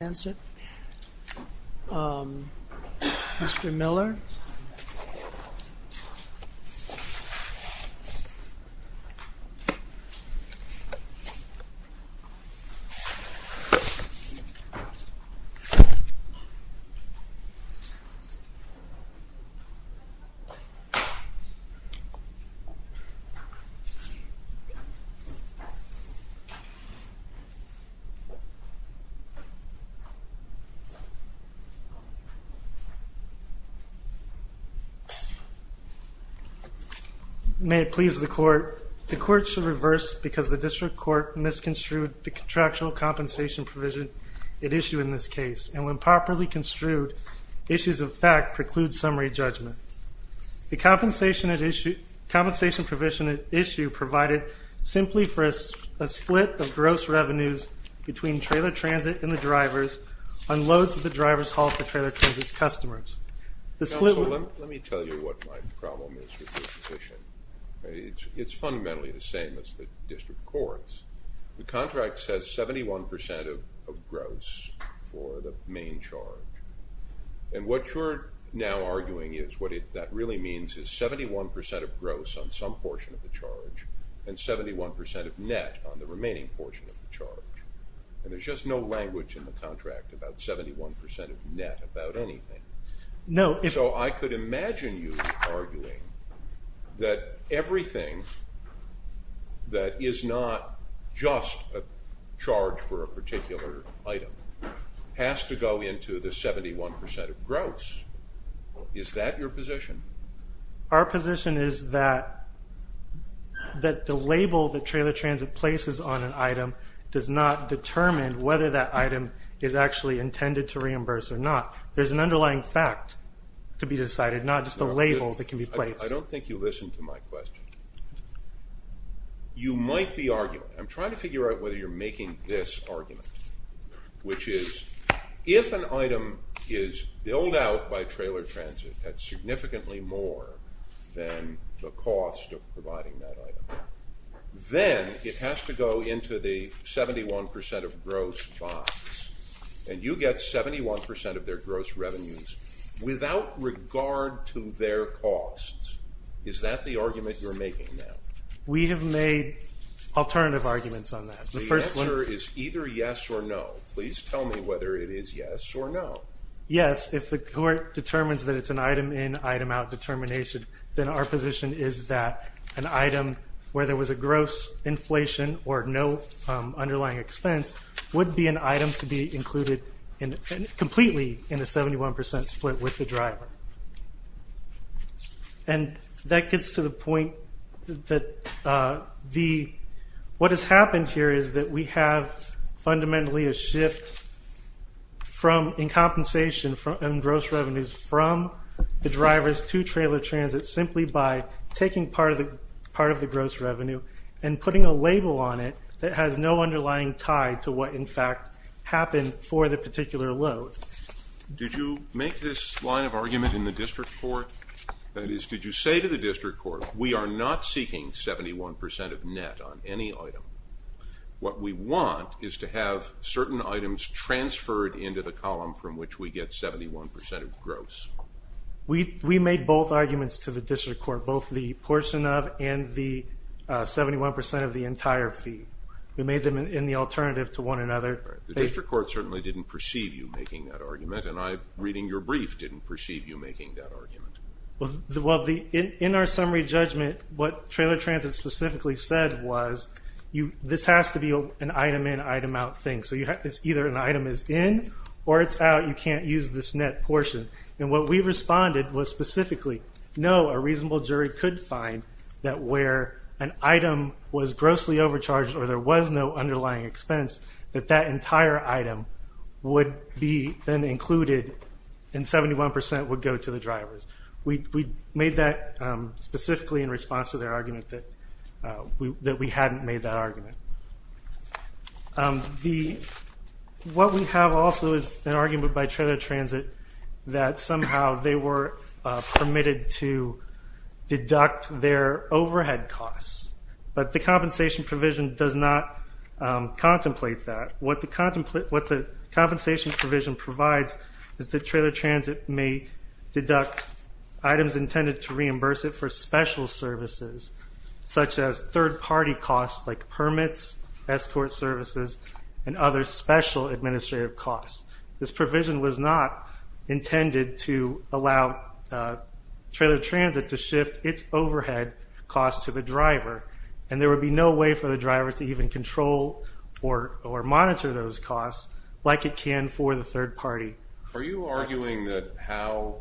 Trailer Transit, Inc. May it please the Court, the Court shall reverse because the District Court misconstrued the contractual compensation provision at issue in this case, and when properly construed, issues of fact preclude summary judgment. The compensation provision at issue provided simply for a split of gross revenues between Trailer Transit and the drivers on loads that the drivers hauled to Trailer Transit's customers. This split would- Counsel, let me tell you what my problem is with this position. It's fundamentally the same as the District Court's. The contract says 71% of gross for the main charge, and what you're now arguing is what that really means is 71% of gross on some portion of the charge and 71% of net on the remaining portion of the charge. And there's just no language in the contract about 71% of net about anything. So I could imagine you arguing that everything that is not just a charge for a particular item has to go into the 71% of gross. Is that your position? Our position is that the label that Trailer Transit places on an item does not determine whether that item is actually intended to reimburse or not. There's an underlying fact to be decided, not just a label that can be placed. I don't think you listened to my question. You might be arguing, I'm trying to figure out whether you're making this argument, which is if an item is billed out by Trailer Transit at significantly more than the cost of providing that item, then it has to go into the 71% of gross box, and you get 71% of their gross revenues without regard to their costs. Is that the argument you're making now? We have made alternative arguments on that. The first one- The answer is either yes or no. Please tell me whether it is yes or no. Yes, if the court determines that it's an item in, item out determination, then our position is that an item where there was a gross inflation or no underlying expense would be an item to be included completely in a 71% split with the driver. And that gets to the point that the- what has happened here is that we have fundamentally a shift in compensation and gross revenues from the drivers to Trailer Transit simply by taking part of the gross revenue and putting a label on it that has no underlying tie to what in fact happened for the particular load. Did you make this line of argument in the district court? That is, did you say to the district court, we are not seeking 71% of net on any item. What we want is to have certain items transferred into the column from which we get 71% of gross. We made both arguments to the district court, both the portion of and the 71% of the entire fee. We made them in the alternative to one another. The district court certainly didn't perceive you making that argument and I, reading your brief, didn't perceive you making that argument. In our summary judgment, what Trailer Transit specifically said was, this has to be an item in, item out thing. So it's either an item is in or it's out, you can't use this net portion. And what we responded was specifically, no, a reasonable jury could find that where an entire item would be then included and 71% would go to the drivers. We made that specifically in response to their argument that we hadn't made that argument. What we have also is an argument by Trailer Transit that somehow they were permitted to deduct their overhead costs, but the compensation provision does not contemplate that. What the compensation provision provides is that Trailer Transit may deduct items intended to reimburse it for special services, such as third party costs like permits, escort services, and other special administrative costs. This provision was not intended to allow Trailer Transit to shift its overhead costs to the driver or to sponsor those costs like it can for the third party. Are you arguing that how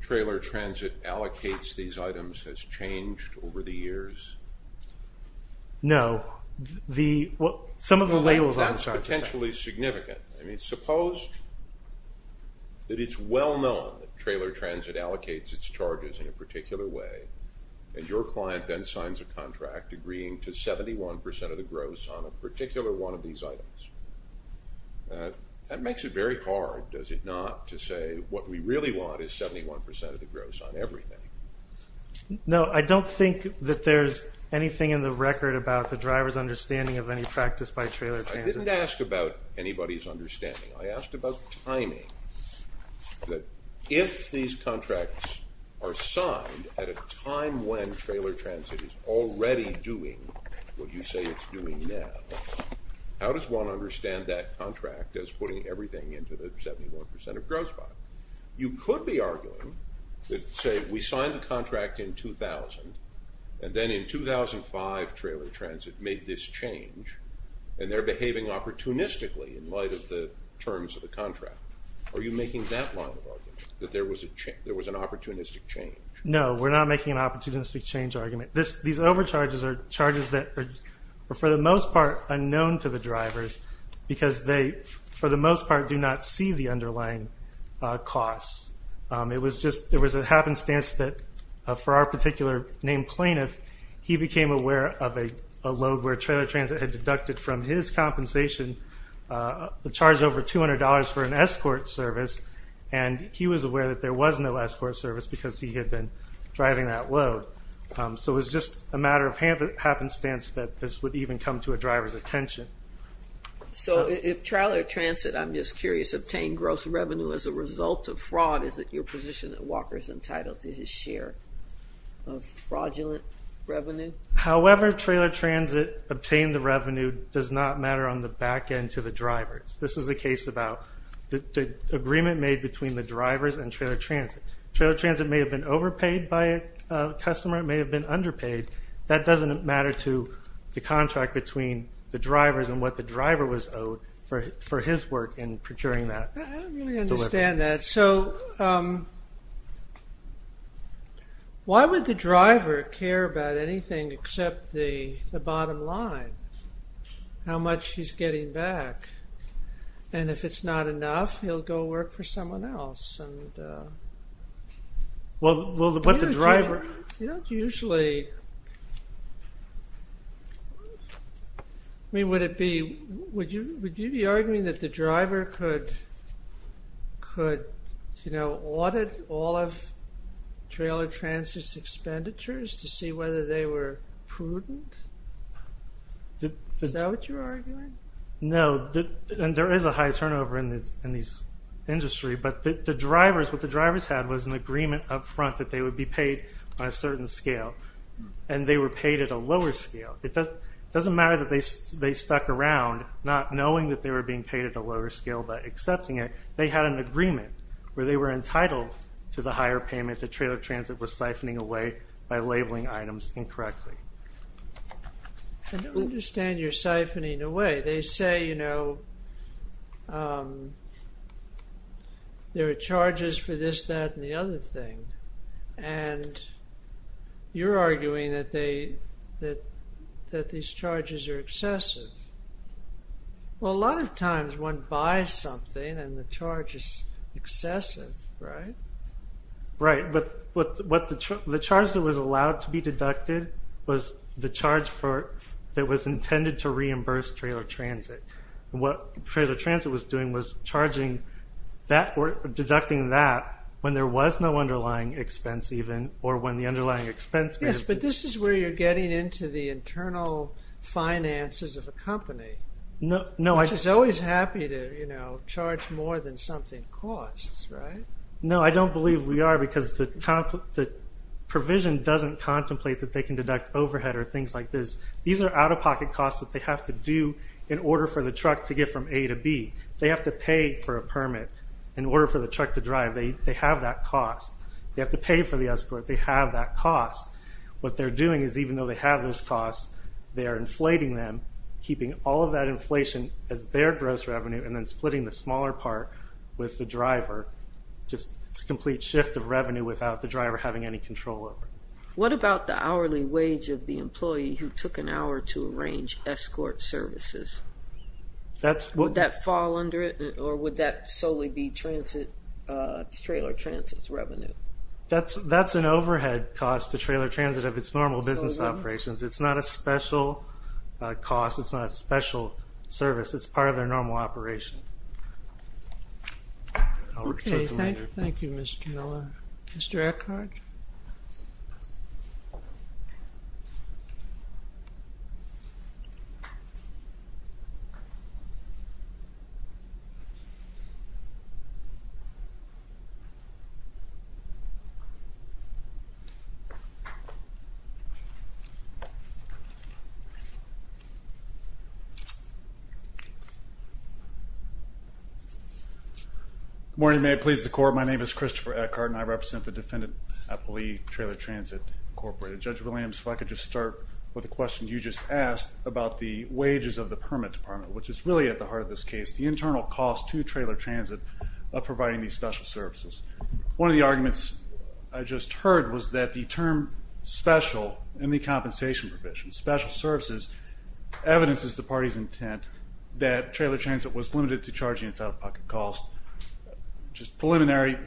Trailer Transit allocates these items has changed over the years? No. Some of the labels I'm trying to say. That's potentially significant. I mean, suppose that it's well known that Trailer Transit allocates its charges in a particular way and your client then signs a contract agreeing to 71% of the gross on a particular one of these items. That makes it very hard, does it not, to say what we really want is 71% of the gross on everything. No, I don't think that there's anything in the record about the driver's understanding of any practice by Trailer Transit. I didn't ask about anybody's understanding. I asked about timing. If these contracts are signed at a time when Trailer Transit is already doing what you How does one understand that contract as putting everything into the 71% of gross volume? You could be arguing that, say, we signed the contract in 2000 and then in 2005 Trailer Transit made this change and they're behaving opportunistically in light of the terms of the contract. Are you making that line of argument, that there was an opportunistic change? No, we're not making an opportunistic change argument. These overcharges are charges that are, for the most part, unknown to the drivers because they, for the most part, do not see the underlying costs. There was a happenstance that, for our particular named plaintiff, he became aware of a load where Trailer Transit had deducted from his compensation, charged over $200 for an escort service, and he was aware that there was no escort service because he had been driving that load. So it was just a matter of happenstance that this would even come to a driver's attention. So if Trailer Transit, I'm just curious, obtained gross revenue as a result of fraud, is it your position that Walker is entitled to his share of fraudulent revenue? However, Trailer Transit obtained the revenue does not matter on the back end to the drivers. This is a case about the agreement made between the drivers and Trailer Transit. Trailer Transit may have been overpaid by a customer, it may have been underpaid. That doesn't matter to the contract between the drivers and what the driver was owed for his work in procuring that. I don't really understand that. So why would the driver care about anything except the bottom line, how much he's getting back? And if it's not enough, he'll go work for someone else. Well, what the driver... You don't usually... I mean, would it be, would you be arguing that the driver could, you know, audit all of Trailer Transit's expenditures to see whether they were prudent? Is that what you're arguing? No, and there is a high turnover in this industry, but the drivers, what the drivers had was an agreement up front that they would be paid on a certain scale, and they were paid at a lower scale. It doesn't matter that they stuck around, not knowing that they were being paid at a lower scale, but accepting it. They had an agreement where they were entitled to the higher payment that Trailer Transit was siphoning away by labeling items incorrectly. I don't understand your siphoning away. They say, you know, there are charges for this, that, and the other thing, and you're arguing that they, that these charges are excessive. Well, a lot of times one buys something and the charge is excessive, right? Right. But what the charge that was allowed to be deducted was the charge for, that was intended to reimburse Trailer Transit. What Trailer Transit was doing was charging that, or deducting that when there was no underlying expense even, or when the underlying expense made it. Yes, but this is where you're getting into the internal finances of a company, which is always happy to, you know, charge more than something costs, right? No, I don't believe we are, because the provision doesn't contemplate that they can deduct overhead or things like this. These are out-of-pocket costs that they have to do in order for the truck to get from A to B. They have to pay for a permit in order for the truck to drive. They have that cost. They have to pay for the escort. They have that cost. What they're doing is, even though they have those costs, they are inflating them, keeping all of that inflation as their gross revenue, and then splitting the smaller part with the just a complete shift of revenue without the driver having any control over it. What about the hourly wage of the employee who took an hour to arrange escort services? Would that fall under it, or would that solely be Trailer Transit's revenue? That's an overhead cost to Trailer Transit of its normal business operations. It's not a special cost. It's not a special service. It's part of their normal operation. I'll return to you later. OK. Thank you, Mr. Miller. Mr. Eckhart? Good morning. May it please the Court, my name is Christopher Eckhart, and I represent the Defendant Employee Trailer Transit Incorporated. Judge Williams, if I could just start with a question you just asked about the wages of the permit department, which is really at the heart of this case, the internal cost to Trailer Transit of providing these special services. One of the arguments I just heard was that the term special in the compensation provision, special services, evidences the party's intent that Trailer Transit was limited to charging its out-of-pocket costs, which is preliminary.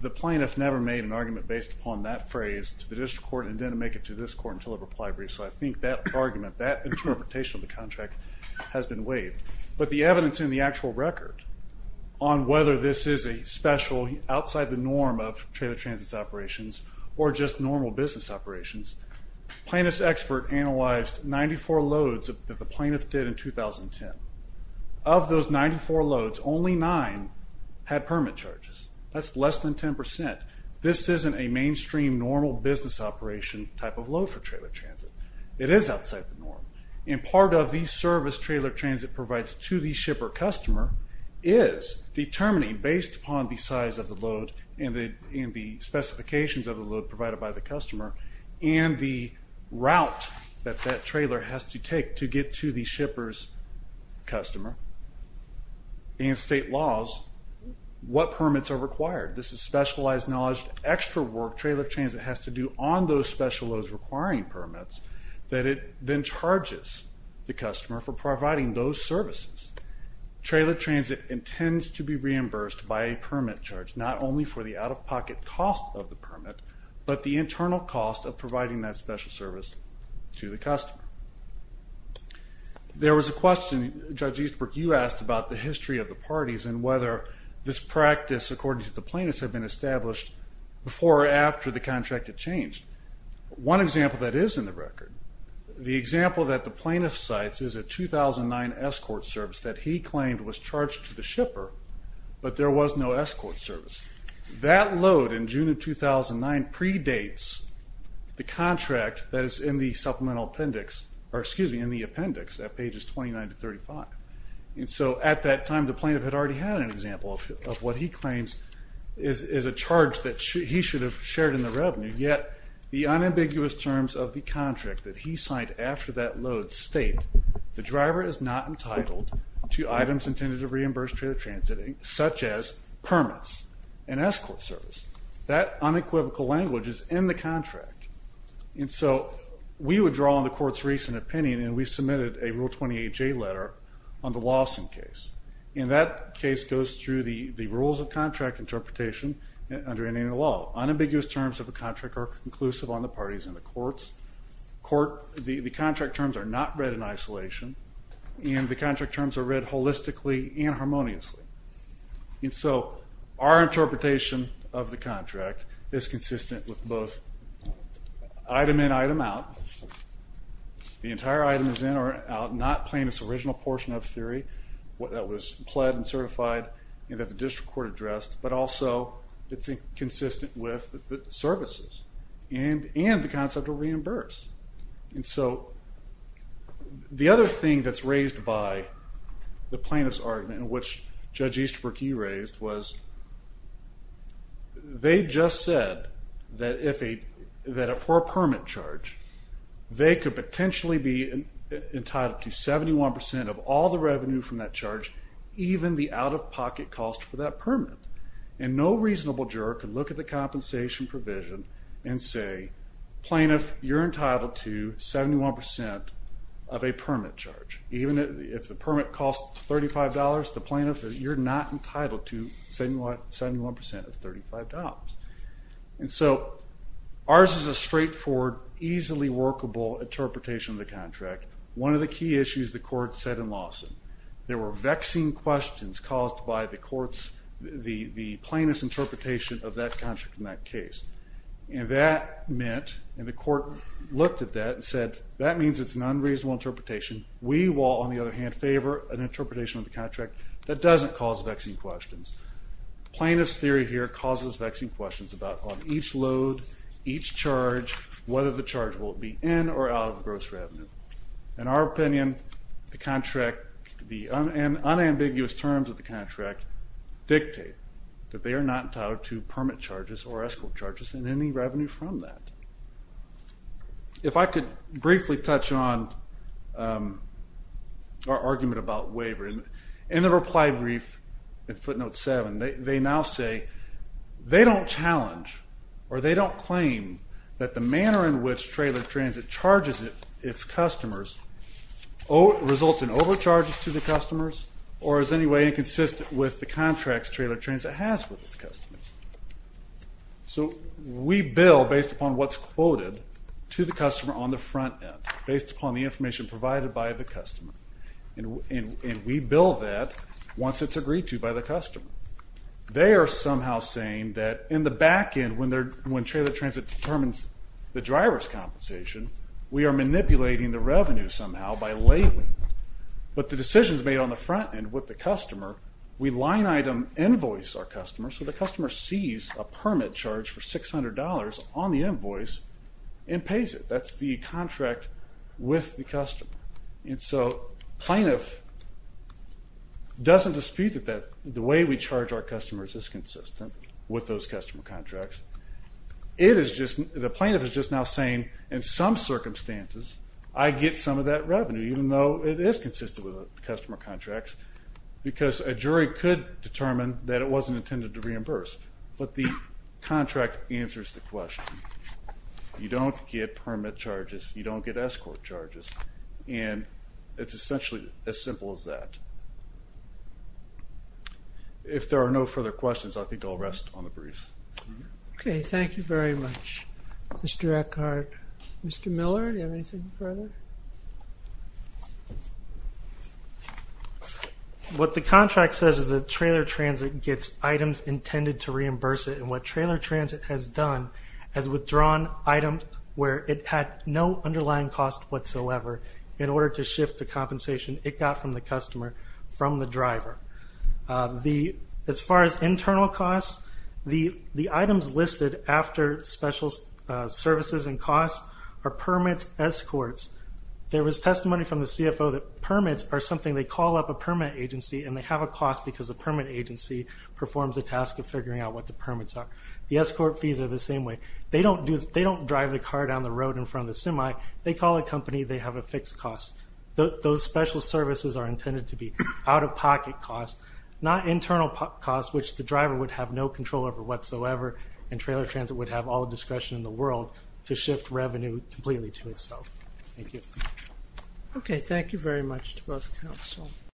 The plaintiff never made an argument based upon that phrase to the district court and didn't make it to this court until a reply brief, so I think that argument, that interpretation of the contract has been waived. But the evidence in the actual record on whether this is a special outside the norm of Trailer Transit is that, in terms of normal business operations, plaintiff's expert analyzed 94 loads that the plaintiff did in 2010. Of those 94 loads, only 9 had permit charges. That's less than 10%. This isn't a mainstream, normal business operation type of load for Trailer Transit. It is outside the norm, and part of the service Trailer Transit provides to the shipper customer is determining, based upon the size of the load and the specifications of the load provided by the customer, and the route that that trailer has to take to get to the shipper's customer and state laws, what permits are required. This is specialized knowledge, extra work Trailer Transit has to do on those special loads requiring permits that it then charges the customer for providing those services. Trailer Transit intends to be reimbursed by a permit charge, not only for the out-of-pocket cost of the permit, but the internal cost of providing that special service to the customer. There was a question, Judge Eastbrook, you asked about the history of the parties and whether this practice, according to the plaintiffs, had been established before or after the contract had changed. One example that is in the record, the example that the plaintiff cites is a 2009 escort service that he claimed was charged to the shipper, but there was no escort service. That load in June of 2009 predates the contract that is in the supplemental appendix, or excuse me, in the appendix at pages 29 to 35. And so at that time the plaintiff had already had an example of what he claims is a charge that he should have shared in the revenue, yet the unambiguous terms of the contract that he signed after that load state, the driver is not entitled to items intended to an escort service. That unequivocal language is in the contract. And so we would draw on the court's recent opinion and we submitted a Rule 28J letter on the Lawson case. And that case goes through the rules of contract interpretation under Indian law. Unambiguous terms of a contract are conclusive on the parties and the courts. The contract terms are not read in isolation and the contract terms are read holistically and harmoniously. And so our interpretation of the contract is consistent with both item in, item out. The entire item is in or out, not plaintiff's original portion of the theory that was pled and certified and that the district court addressed, but also it's consistent with the services and the concept of reimburse. And so the other thing that's raised by the plaintiff's argument, which Judge Easterbrook you raised, was they just said that if a, that for a permit charge, they could potentially be entitled to 71% of all the revenue from that charge, even the out of pocket cost for that permit. And no reasonable juror could look at the compensation provision and say, plaintiff, you're entitled to 71% of a permit charge. Even if the permit costs $35, the plaintiff, you're not entitled to 71% of $35. And so ours is a straightforward, easily workable interpretation of the contract. One of the key issues the court said in Lawson, there were vexing questions caused by the court's, the plaintiff's interpretation of that contract in that case. And that meant, and the court looked at that and said, that means it's an unreasonable interpretation. We will, on the other hand, favor an interpretation of the contract that doesn't cause vexing questions. The plaintiff's theory here causes vexing questions about on each load, each charge, whether the charge will be in or out of the gross revenue. In our opinion, the contract, the unambiguous terms of the contract dictate that they are not entitled to permit charges or escrow charges and any revenue from that. If I could briefly touch on our argument about waiver, in the reply brief in footnote 7, they now say, they don't challenge or they don't claim that the manner in which Trailer Transit charges its customers results in overcharges to the customers or is in any way inconsistent with the contracts Trailer Transit has with its customers. So we bill based upon what's quoted to the customer on the front end, based upon the information provided by the customer, and we bill that once it's agreed to by the customer. They are somehow saying that in the back end, when Trailer Transit determines the driver's compensation, we are manipulating the revenue somehow by labeling it. But the decisions made on the front end with the customer, we line item invoice our customer, so the customer sees a permit charge for $600 on the invoice and pays it. That's the contract with the customer. And so plaintiff doesn't dispute that the way we charge our customers is consistent with those customer contracts. It is just, the plaintiff is just now saying, in some circumstances, I get some of that consistent with the customer contracts, because a jury could determine that it wasn't intended to reimburse, but the contract answers the question. You don't get permit charges, you don't get escort charges, and it's essentially as simple as that. If there are no further questions, I think I'll rest on the briefs. Okay, thank you very much, Mr. Eckhardt. Mr. Miller, do you have anything further? What the contract says is that Trailer Transit gets items intended to reimburse it, and what Trailer Transit has done has withdrawn items where it had no underlying cost whatsoever in order to shift the compensation it got from the customer from the driver. As far as internal costs, the items listed after special services and costs are permits, escorts, there was testimony from the CFO that permits are something they call up a permit agency and they have a cost because the permit agency performs the task of figuring out what the permits are. The escort fees are the same way. They don't drive the car down the road in front of the semi, they call a company, they have a fixed cost. Those special services are intended to be out-of-pocket costs, not internal costs, which the driver would have no control over whatsoever, and Trailer Transit would have all the discretion in the world to shift revenue completely to itself. Thank you. Okay, thank you very much to both counsel.